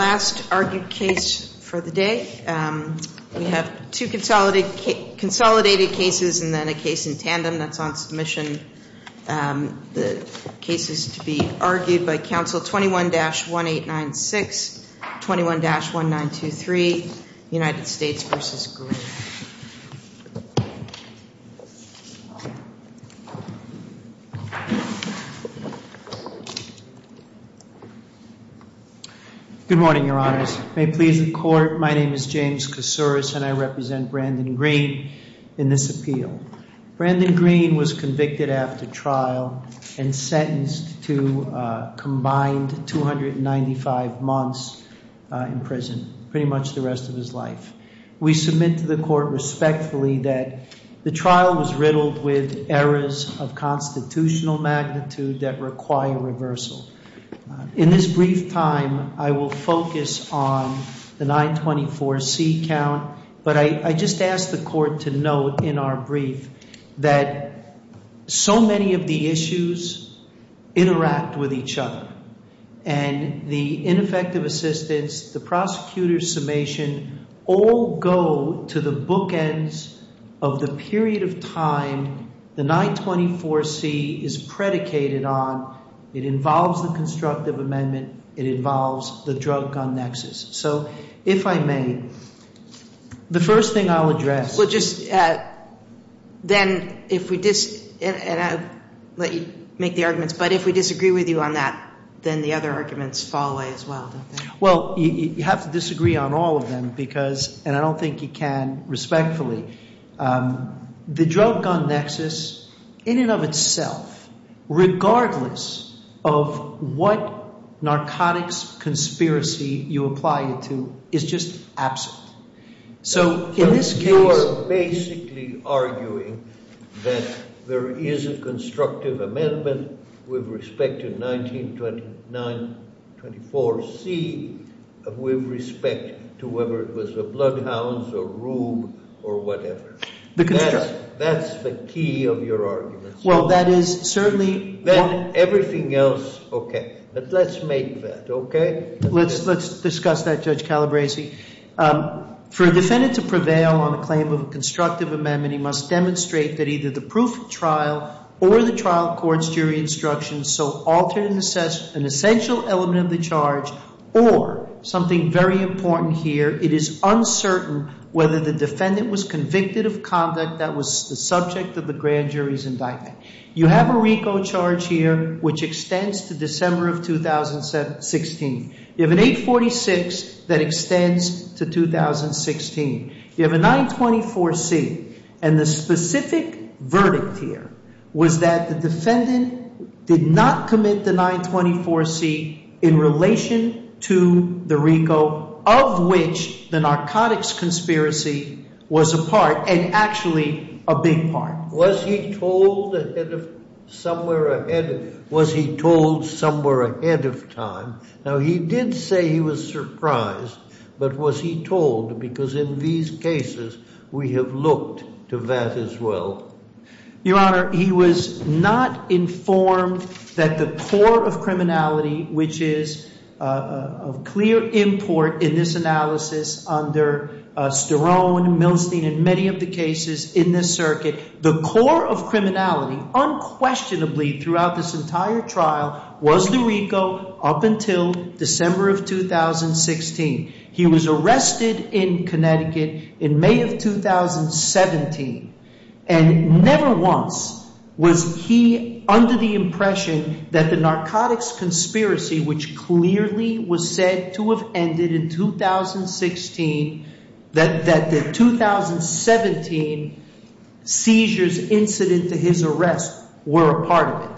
The last argued case for the day. We have two consolidated cases and then a case in tandem that's on submission. The case is to be argued by counsel 21-1896, 21-1923, United States v. Green. Good morning, Your Honors. May it please the Court, my name is James Koussouris and I represent Brandon Green in this appeal. Brandon Green was convicted after trial and sentenced to a combined 295 months in prison, pretty much the rest of his life. We submit to the Court respectfully that the trial was riddled with errors of constitutional magnitude that require reversal. In this brief time, I will focus on the 924C count, but I just ask the Court to note in our brief that so many of the issues interact with each other. And the ineffective assistance, the prosecutor's summation, all go to the bookends of the period of time the 924C is predicated on. It involves the constructive amendment. It involves the drug-gun nexus. So if I may, the first thing I'll address. Well, just then if we disagree, and I'll let you make the arguments, but if we disagree with you on that, then the other arguments fall away as well, don't they? Well, you have to disagree on all of them because, and I don't think you can respectfully, the drug-gun nexus in and of itself, regardless of what narcotics conspiracy you apply it to, is just absent. So in this case— You are basically arguing that there is a constructive amendment with respect to 924C with respect to whether it was the Bloodhounds or Rube or whatever. The constructive— That's the key of your argument. Well, that is certainly— Then everything else, okay. But let's make that, okay? Let's discuss that, Judge Calabresi. For a defendant to prevail on a claim of a constructive amendment, he must demonstrate that either the proof of trial or the trial court's jury instructions so alter an essential element of the charge or something very important here. It is uncertain whether the defendant was convicted of conduct that was the subject of the grand jury's indictment. You have a RICO charge here which extends to December of 2016. You have an 846 that extends to 2016. You have a 924C, and the specific verdict here was that the defendant did not commit the 924C in relation to the RICO of which the narcotics conspiracy was a part and actually a big part. Was he told ahead of—somewhere ahead—was he told somewhere ahead of time? Now, he did say he was surprised, but was he told? Because in these cases, we have looked to that as well. Your Honor, he was not informed that the core of criminality, which is of clear import in this analysis under Sterone, Milstein, and many of the cases in this circuit. The core of criminality unquestionably throughout this entire trial was the RICO up until December of 2016. He was arrested in Connecticut in May of 2017, and never once was he under the impression that the narcotics conspiracy, which clearly was said to have ended in 2016, that the 2017 seizures incident to his arrest were a part of it.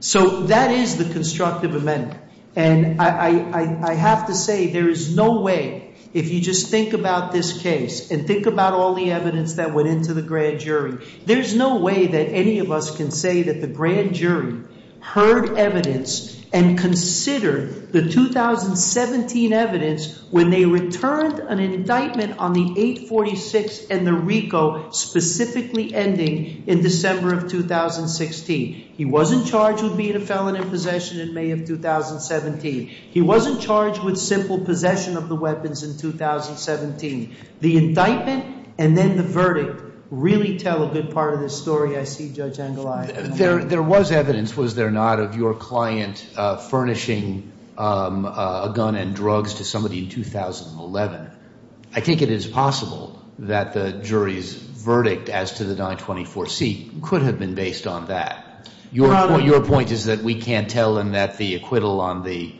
So that is the constructive amendment, and I have to say there is no way, if you just think about this case and think about all the evidence that went into the grand jury, there's no way that any of us can say that the grand jury heard evidence and considered the 2017 evidence when they returned an indictment on the 846 and the RICO specifically ending in December of 2016. He wasn't charged with being a felon in possession in May of 2017. He wasn't charged with simple possession of the weapons in 2017. The indictment and then the verdict really tell a good part of this story, I see, Judge Angeli. There was evidence, was there not, of your client furnishing a gun and drugs to somebody in 2011. I think it is possible that the jury's verdict as to the 924C could have been based on that. Your point is that we can't tell and that the acquittal on the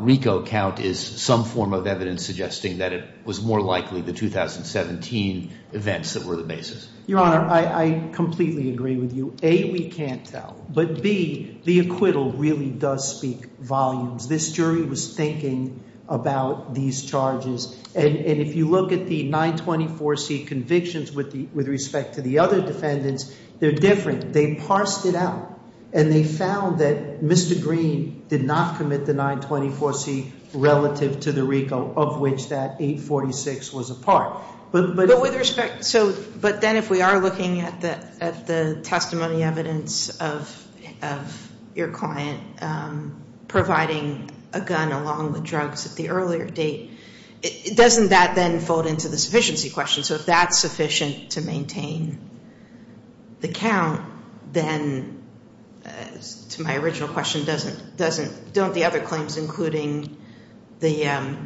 RICO count is some form of evidence suggesting that it was more likely the 2017 events that were the basis. Your Honor, I completely agree with you. A, we can't tell, but B, the acquittal really does speak volumes. This jury was thinking about these charges and if you look at the 924C convictions with respect to the other defendants, they're different. They parsed it out and they found that Mr. Green did not commit the 924C relative to the RICO of which that 846 was a part. But with respect, but then if we are looking at the testimony evidence of your client providing a gun along with drugs at the earlier date, doesn't that then fold into the sufficiency question? So if that's sufficient to maintain the count, then to my original question, don't the other claims including the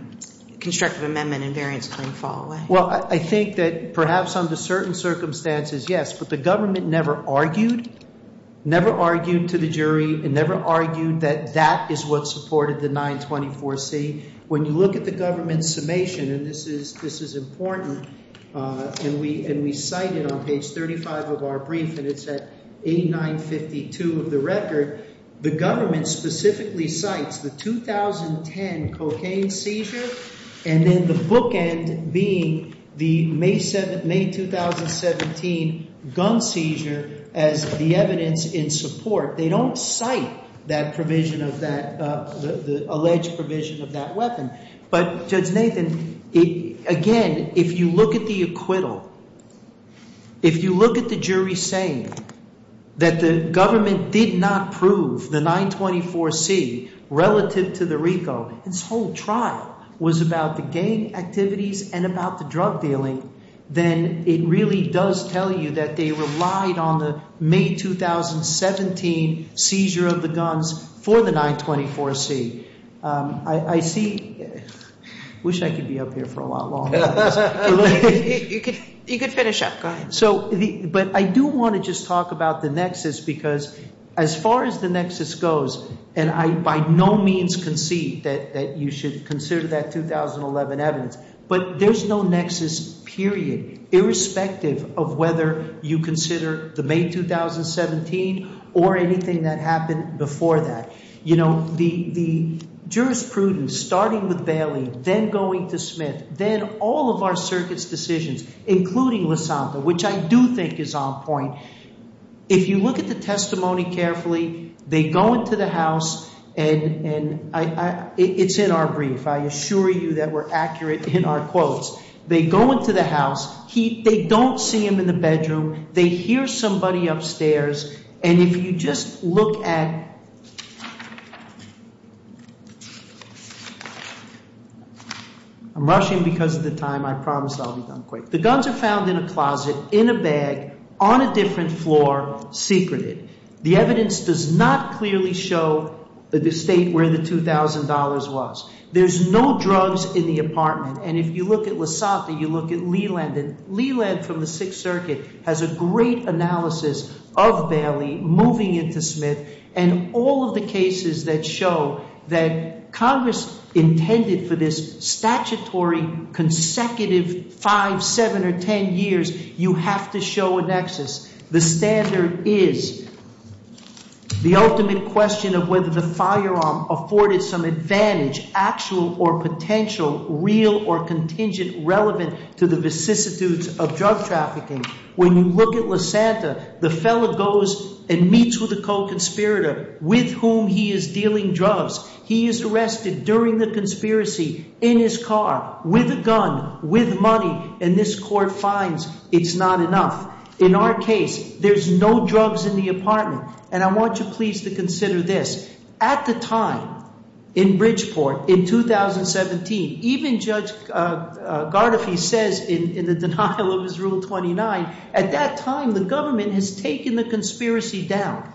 constructive amendment and variance claim fall away? Well, I think that perhaps under certain circumstances, yes, but the government never argued, never argued to the jury and never argued that that is what supported the 924C. When you look at the government's summation, and this is important, and we cite it on page 35 of our brief, and it's at 8952 of the record, the government specifically cites the 2010 cocaine seizure and then the bookend being the May 2017 gun seizure as the evidence in support. They don't cite that provision of that, the alleged provision of that weapon. But Judge Nathan, again, if you look at the acquittal, if you look at the jury saying that the government did not prove the 924C relative to the RICO, this whole trial was about the gang activities and about the drug dealing, then it really does tell you that they relied on the May 2017 seizure of the guns for the 924C. I see ‑‑ I wish I could be up here for a lot longer. You could finish up. Go ahead. But I do want to just talk about the nexus because as far as the nexus goes, and I by no means concede that you should consider that 2011 evidence, but there's no nexus, period, irrespective of whether you consider the May 2017 or anything that happened before that. You know, the jurisprudence, starting with Bailey, then going to Smith, then all of our circuit's decisions, including Lisantha, which I do think is on point, if you look at the testimony carefully, they go into the house, and it's in our brief. I assure you that we're accurate in our quotes. They go into the house. They don't see him in the bedroom. They hear somebody upstairs, and if you just look at ‑‑ I'm rushing because of the time. I promise I'll be done quick. The guns are found in a closet, in a bag, on a different floor, secreted. The evidence does not clearly show the state where the $2,000 was. There's no drugs in the apartment, and if you look at Lisantha, you look at Leland, and Leland from the Sixth Circuit has a great analysis of Bailey moving into Smith, and all of the cases that show that Congress intended for this statutory, consecutive five, seven, or ten years, you have to show a nexus. The standard is the ultimate question of whether the firearm afforded some advantage, actual or potential, real or contingent, relevant to the vicissitudes of drug trafficking. When you look at Lisantha, the fellow goes and meets with a co‑conspirator with whom he is dealing drugs. He is arrested during the conspiracy in his car with a gun, with money, and this court finds it's not enough. In our case, there's no drugs in the apartment, and I want you, please, to consider this. At the time, in Bridgeport, in 2017, even Judge Gardefee says in the denial of his Rule 29, at that time, the government has taken the conspiracy down,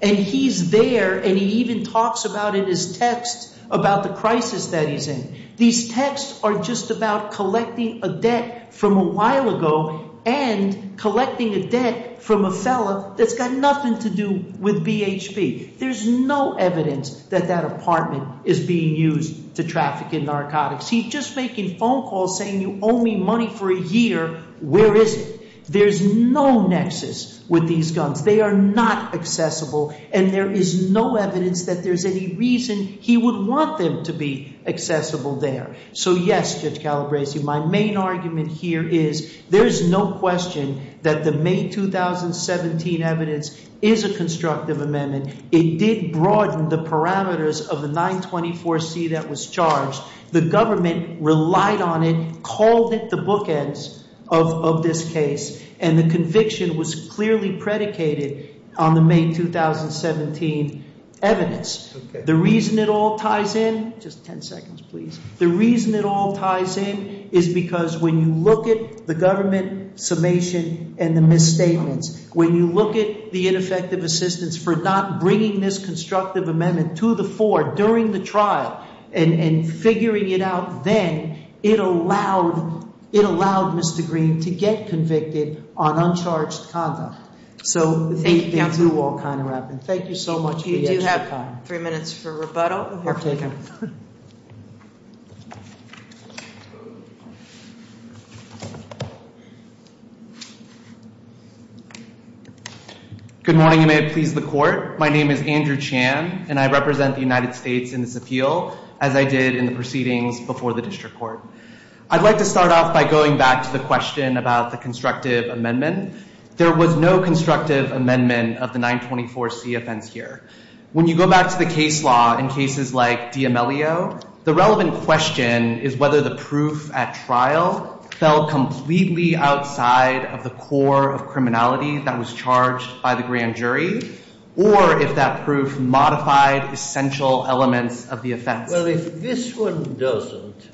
and he's there, and he even talks about it in his text about the crisis that he's in. These texts are just about collecting a debt from a while ago, and collecting a debt from a fellow that's got nothing to do with BHP. There's no evidence that that apartment is being used to traffic in narcotics. He's just making phone calls saying, you owe me money for a year. Where is it? There's no nexus with these guns. They are not accessible, and there is no evidence that there's any reason he would want them to be accessible there. So, yes, Judge Calabresi, my main argument here is there's no question that the May 2017 evidence is a constructive amendment. It did broaden the parameters of the 924C that was charged. The government relied on it, called it the bookends of this case, and the conviction was clearly predicated on the May 2017 evidence. The reason it all ties in is because when you look at the government summation and the misstatements, when you look at the ineffective assistance for not bringing this constructive amendment to the fore during the trial and figuring it out then, it allowed Mr. Green to get convicted on uncharged conduct. So thank you, Counselor. Thank you, Wakanda Rappaport. Thank you so much for your time. We do have three minutes for rebuttal. My name is Andrew Chan, and I represent the United States in this appeal, as I did in the proceedings before the district court. I'd like to start off by going back to the question about the constructive amendment. There was no constructive amendment of the 924C offense here. When you go back to the case law in cases like D'Amelio, the relevant question is whether the proof at trial fell completely outside of the core of criminality that was charged by the grand jury or if that proof modified essential elements of the offense. Well, if this one doesn't,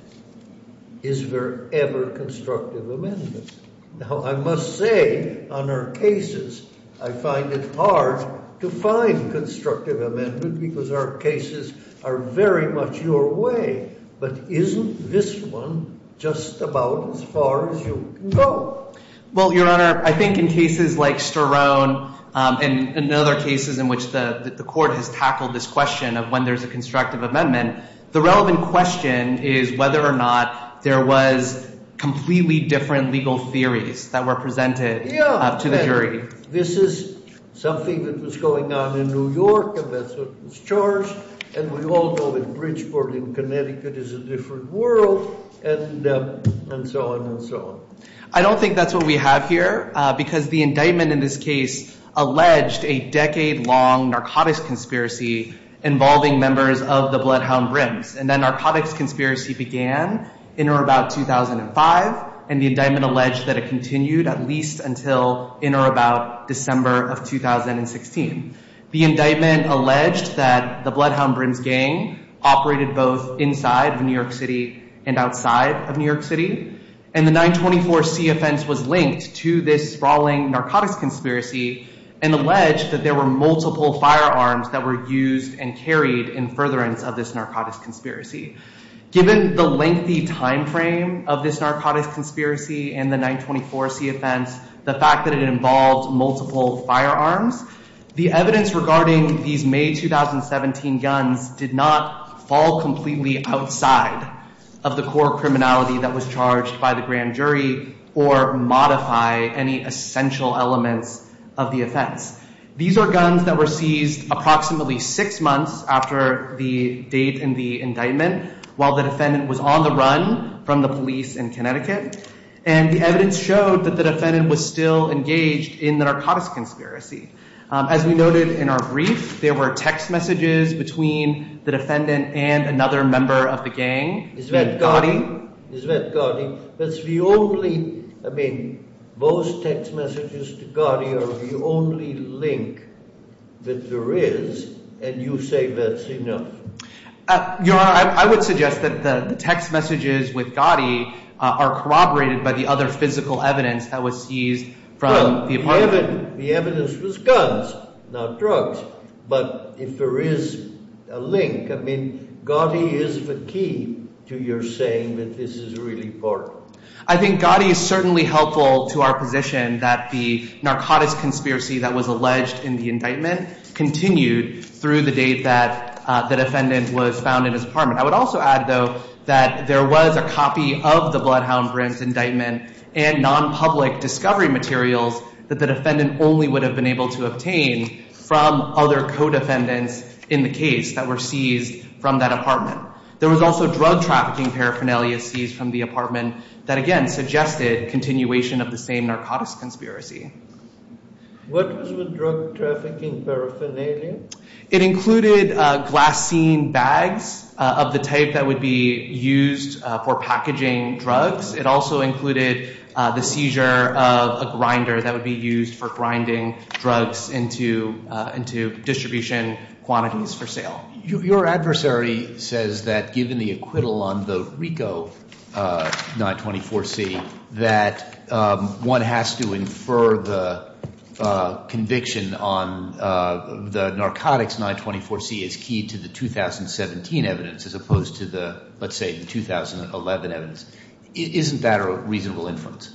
is there ever constructive amendment? Now, I must say on our cases, I find it hard to find constructive amendment because our cases are very much your way, but isn't this one just about as far as you can go? Well, Your Honor, I think in cases like Sterone and other cases in which the court has tackled this question of when there's a constructive amendment, the relevant question is whether or not there was completely different legal theories that were presented to the jury. This is something that was going on in New York, and that's what was charged, and we all know that Bridgeport in Connecticut is a different world, and so on and so on. I don't think that's what we have here because the indictment in this case alleged a decade-long narcotics conspiracy involving members of the Bloodhound Brims, and that narcotics conspiracy began in or about 2005, and the indictment alleged that it continued at least until in or about December of 2016. The indictment alleged that the Bloodhound Brims gang operated both inside of New York City and outside of New York City, and the 924C offense was linked to this sprawling narcotics conspiracy and alleged that there were multiple firearms that were used and carried in furtherance of this narcotics conspiracy. Given the lengthy time frame of this narcotics conspiracy and the 924C offense, the fact that it involved multiple firearms, the evidence regarding these May 2017 guns did not fall completely outside of the core criminality that was charged by the grand jury or modify any essential elements of the offense. These are guns that were seized approximately six months after the date in the indictment while the defendant was on the run from the police in Connecticut, and the evidence showed that the defendant was still engaged in the narcotics conspiracy. As we noted in our brief, there were text messages between the defendant and another member of the gang. Is that Gotti? Is that Gotti? That's the only, I mean, those text messages to Gotti are the only link that there is, and you say that's enough. Your Honor, I would suggest that the text messages with Gotti are corroborated by the other physical evidence that was seized from the apartment. The evidence was guns, not drugs, but if there is a link, I mean, Gotti is the key to your saying that this is really important. I think Gotti is certainly helpful to our position that the narcotics conspiracy that was alleged in the indictment continued through the date that the defendant was found in his apartment. I would also add, though, that there was a copy of the Bloodhound Brim's indictment and nonpublic discovery materials that the defendant only would have been able to obtain from other co-defendants in the case that were seized from that apartment. There was also drug trafficking paraphernalia seized from the apartment that, again, suggested continuation of the same narcotics conspiracy. What was with drug trafficking paraphernalia? It included glassine bags of the type that would be used for packaging drugs. It also included the seizure of a grinder that would be used for grinding drugs into distribution quantities for sale. Your adversary says that given the acquittal on the RICO 924C that one has to infer the conviction on the narcotics 924C as key to the 2017 evidence as opposed to the, let's say, the 2011 evidence. Isn't that a reasonable inference?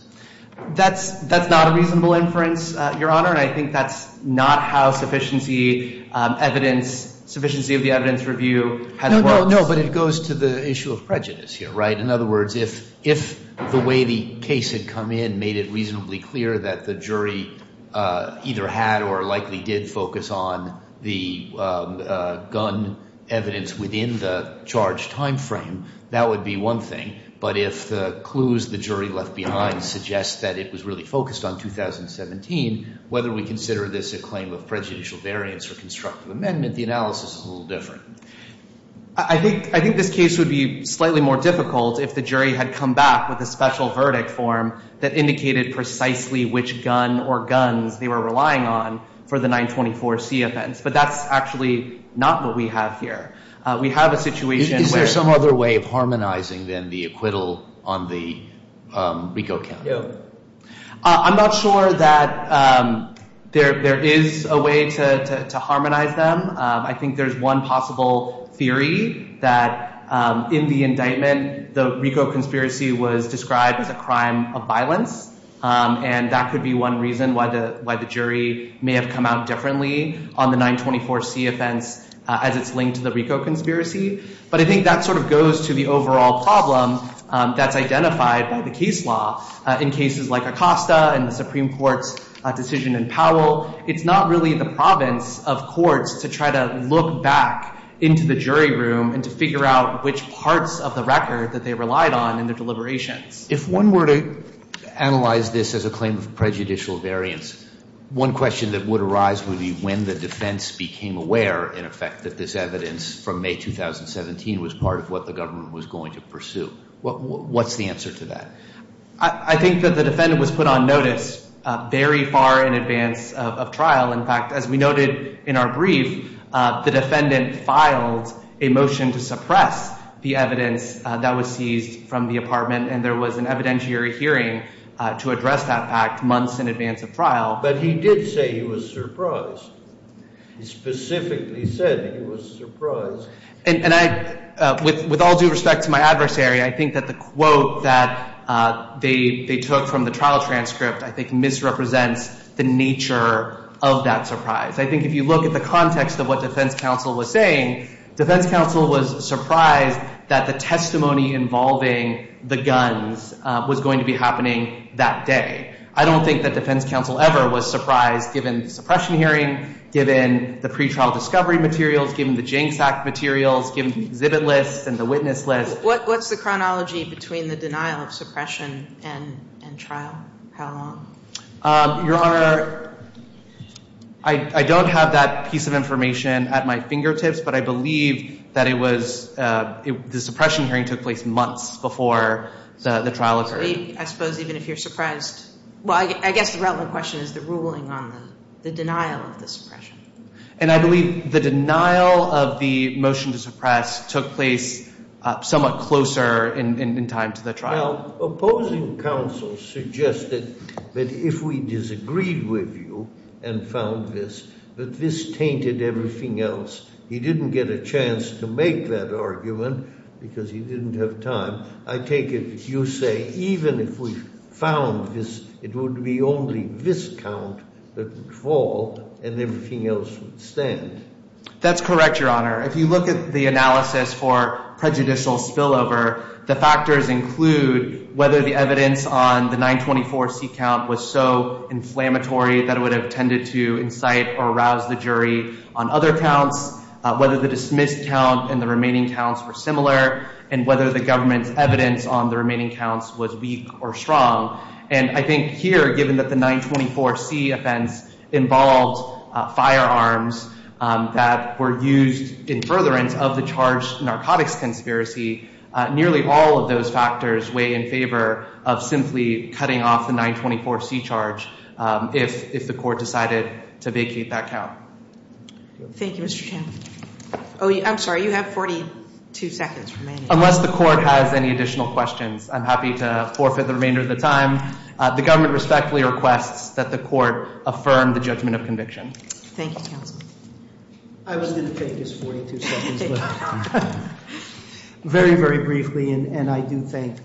That's not a reasonable inference, Your Honor, and I think that's not how sufficiency evidence, sufficiency of the evidence review has worked. No, no, no, but it goes to the issue of prejudice here, right? In other words, if the way the case had come in made it reasonably clear that the jury either had or likely did focus on the gun evidence within the charge time frame, that would be one thing. But if the clues the jury left behind suggest that it was really focused on 2017, whether we consider this a claim of prejudicial variance or constructive amendment, the analysis is a little different. I think this case would be slightly more difficult if the jury had come back with a special verdict form that indicated precisely which gun or guns they were relying on for the 924C offense, but that's actually not what we have here. We have a situation where- Is there some other way of harmonizing then the acquittal on the RICO count? No. I'm not sure that there is a way to harmonize them. I think there's one possible theory that in the indictment, the RICO conspiracy was described as a crime of violence, and that could be one reason why the jury may have come out differently on the 924C offense as it's linked to the RICO conspiracy. But I think that sort of goes to the overall problem that's identified by the case law in cases like Acosta and the Supreme Court's decision in Powell. It's not really the province of courts to try to look back into the jury room and to figure out which parts of the record that they relied on in their deliberations. If one were to analyze this as a claim of prejudicial variance, one question that would arise would be when the defense became aware, in effect, that this evidence from May 2017 was part of what the government was going to pursue. What's the answer to that? I think that the defendant was put on notice very far in advance of trial. In fact, as we noted in our brief, the defendant filed a motion to suppress the evidence that was seized from the apartment, and there was an evidentiary hearing to address that fact months in advance of trial. But he did say he was surprised. He specifically said he was surprised. And with all due respect to my adversary, I think that the quote that they took from the trial transcript I think misrepresents the nature of that surprise. I think if you look at the context of what defense counsel was saying, defense counsel was surprised that the testimony involving the guns was going to be happening that day. I don't think that defense counsel ever was surprised given suppression hearing, given the pretrial discovery materials, given the Janks Act materials, given the exhibit list and the witness list. What's the chronology between the denial of suppression and trial? How long? Your Honor, I don't have that piece of information at my fingertips, but I believe that it was the suppression hearing took place months before the trial occurred. I suppose even if you're surprised. Well, I guess the relevant question is the ruling on the denial of the suppression. And I believe the denial of the motion to suppress took place somewhat closer in time to the trial. While opposing counsel suggested that if we disagreed with you and found this, that this tainted everything else. He didn't get a chance to make that argument because he didn't have time. I take it you say even if we found this, it would be only this count that would fall and everything else would stand. That's correct, Your Honor. If you look at the analysis for prejudicial spillover, the factors include whether the evidence on the 924C count was so inflammatory that it would have tended to incite or rouse the jury on other counts, whether the dismissed count and the remaining counts were similar, and whether the government's evidence on the remaining counts was weak or strong. And I think here, given that the 924C offense involved firearms that were used in furtherance of the charged narcotics conspiracy, nearly all of those factors weigh in favor of simply cutting off the 924C charge if the court decided to vacate that count. Thank you, Mr. Chan. I'm sorry, you have 42 seconds remaining. Unless the court has any additional questions, I'm happy to forfeit the remainder of the time. The government respectfully requests that the court affirm the judgment of conviction. Thank you, counsel. I was going to take this 42 seconds, but very, very briefly, and I do thank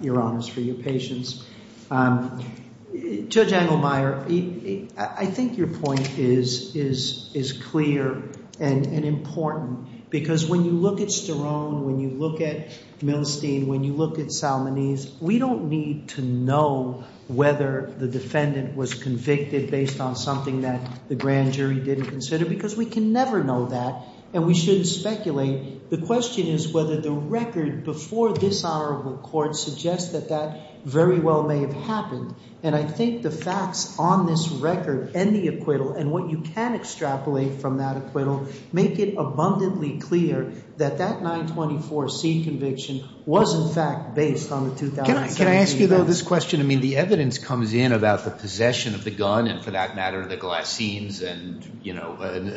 Your Honors for your patience. Judge Engelmeyer, I think your point is clear and important, because when you look at Sterone, when you look at Milstein, when you look at Salmonese, we don't need to know whether the defendant was convicted based on something that the grand jury didn't consider, because we can never know that, and we shouldn't speculate. The question is whether the record before this hour of the court suggests that that very well may have happened, and I think the facts on this record and the acquittal and what you can extrapolate from that acquittal make it abundantly clear that that 924C conviction was, in fact, based on the 2017 events. Can I ask you, though, this question? I mean, the evidence comes in about the possession of the gun and, for that matter, the glass scenes and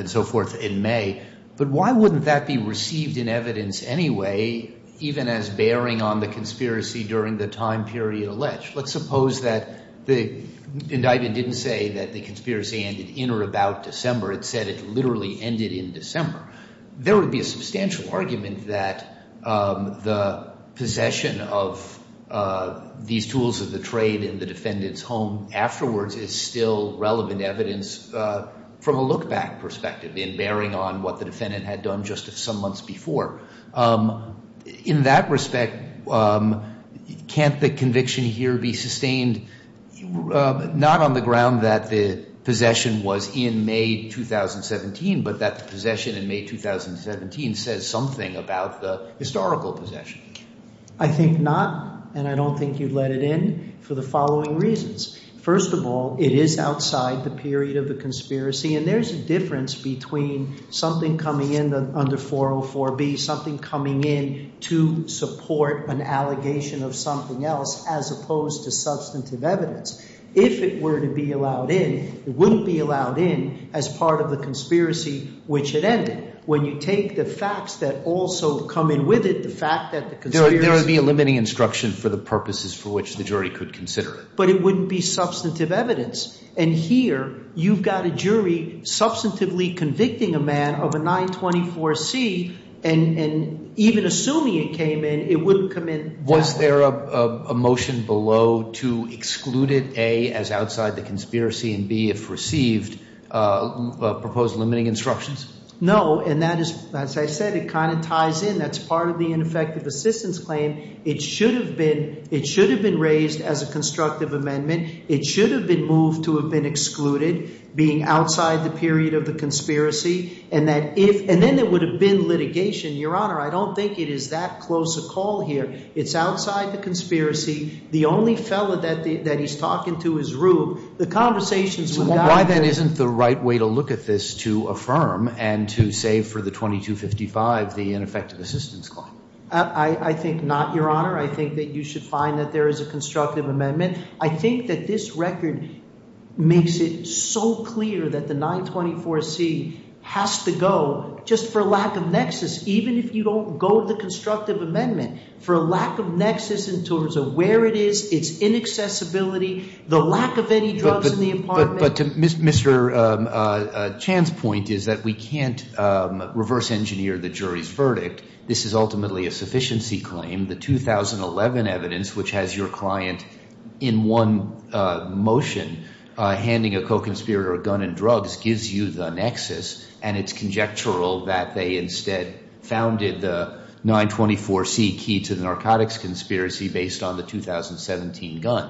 so forth in May, but why wouldn't that be received in evidence anyway, even as bearing on the conspiracy during the time period alleged? Let's suppose that the indictment didn't say that the conspiracy ended in or about December. It said it literally ended in December. There would be a substantial argument that the possession of these tools of the trade in the defendant's home afterwards is still relevant evidence from a look-back perspective in bearing on what the defendant had done just some months before. In that respect, can't the conviction here be sustained not on the ground that the possession was in May 2017, but that the possession in May 2017 says something about the historical possession? I think not, and I don't think you'd let it in for the following reasons. First of all, it is outside the period of the conspiracy, and there's a difference between something coming in under 404B, something coming in to support an allegation of something else, as opposed to substantive evidence. If it were to be allowed in, it wouldn't be allowed in as part of the conspiracy, which it ended. When you take the facts that also come in with it, the fact that the conspiracy— There would be a limiting instruction for the purposes for which the jury could consider it. But it wouldn't be substantive evidence. And here you've got a jury substantively convicting a man of a 924C, and even assuming it came in, it wouldn't come in. Was there a motion below to exclude it, A, as outside the conspiracy, and B, if received, propose limiting instructions? No, and that is—as I said, it kind of ties in. That's part of the ineffective assistance claim. It should have been raised as a constructive amendment. It should have been moved to have been excluded, being outside the period of the conspiracy, and that if— And then there would have been litigation. Your Honor, I don't think it is that close a call here. It's outside the conspiracy. The only fellow that he's talking to is Rube. The conversations without— So why then isn't the right way to look at this to affirm and to save for the 2255, the ineffective assistance claim? I think not, Your Honor. I think that you should find that there is a constructive amendment. I think that this record makes it so clear that the 924C has to go just for lack of nexus, even if you don't go to the constructive amendment, for a lack of nexus in terms of where it is, its inaccessibility, the lack of any drugs in the apartment. But to Mr. Chan's point is that we can't reverse engineer the jury's verdict. This is ultimately a sufficiency claim. The 2011 evidence, which has your client in one motion handing a co-conspirator a gun and drugs, gives you the nexus, and it's conjectural that they instead founded the 924C key to the narcotics conspiracy based on the 2017 gun.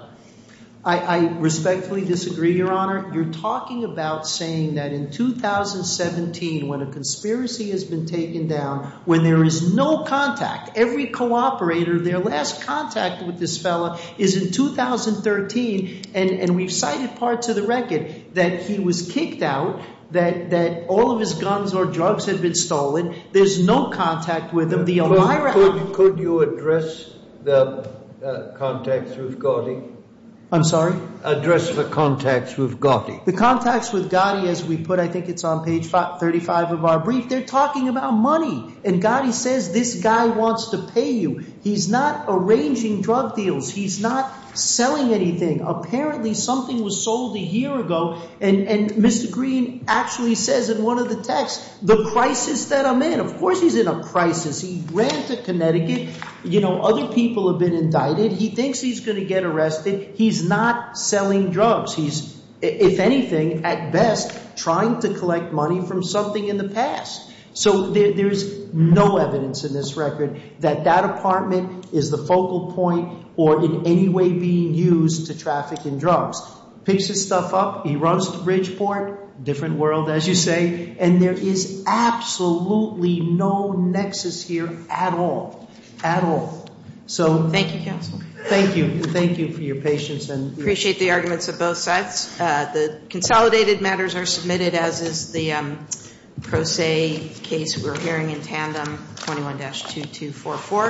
I respectfully disagree, Your Honor. You're talking about saying that in 2017, when a conspiracy has been taken down, when there is no contact, every co-operator, their last contact with this fellow is in 2013, and we've cited parts of the record that he was kicked out, that all of his guns or drugs had been stolen. There's no contact with him. Could you address the contacts we've got? I'm sorry? Could you address the contacts we've got? The contacts with Gotti, as we put, I think it's on page 35 of our brief. They're talking about money, and Gotti says this guy wants to pay you. He's not arranging drug deals. He's not selling anything. Apparently, something was sold a year ago, and Mr. Green actually says in one of the texts, the crisis that I'm in. Of course he's in a crisis. He ran to Connecticut. Other people have been indicted. He thinks he's going to get arrested. He's not selling drugs. He's, if anything, at best, trying to collect money from something in the past. So there's no evidence in this record that that apartment is the focal point or in any way being used to traffic in drugs. Picks his stuff up. He runs to Bridgeport. Different world, as you say, and there is absolutely no nexus here at all, at all. Thank you, counsel. Appreciate the arguments of both sides. The consolidated matters are submitted, as is the pro se case we're hearing in tandem, 21-2244.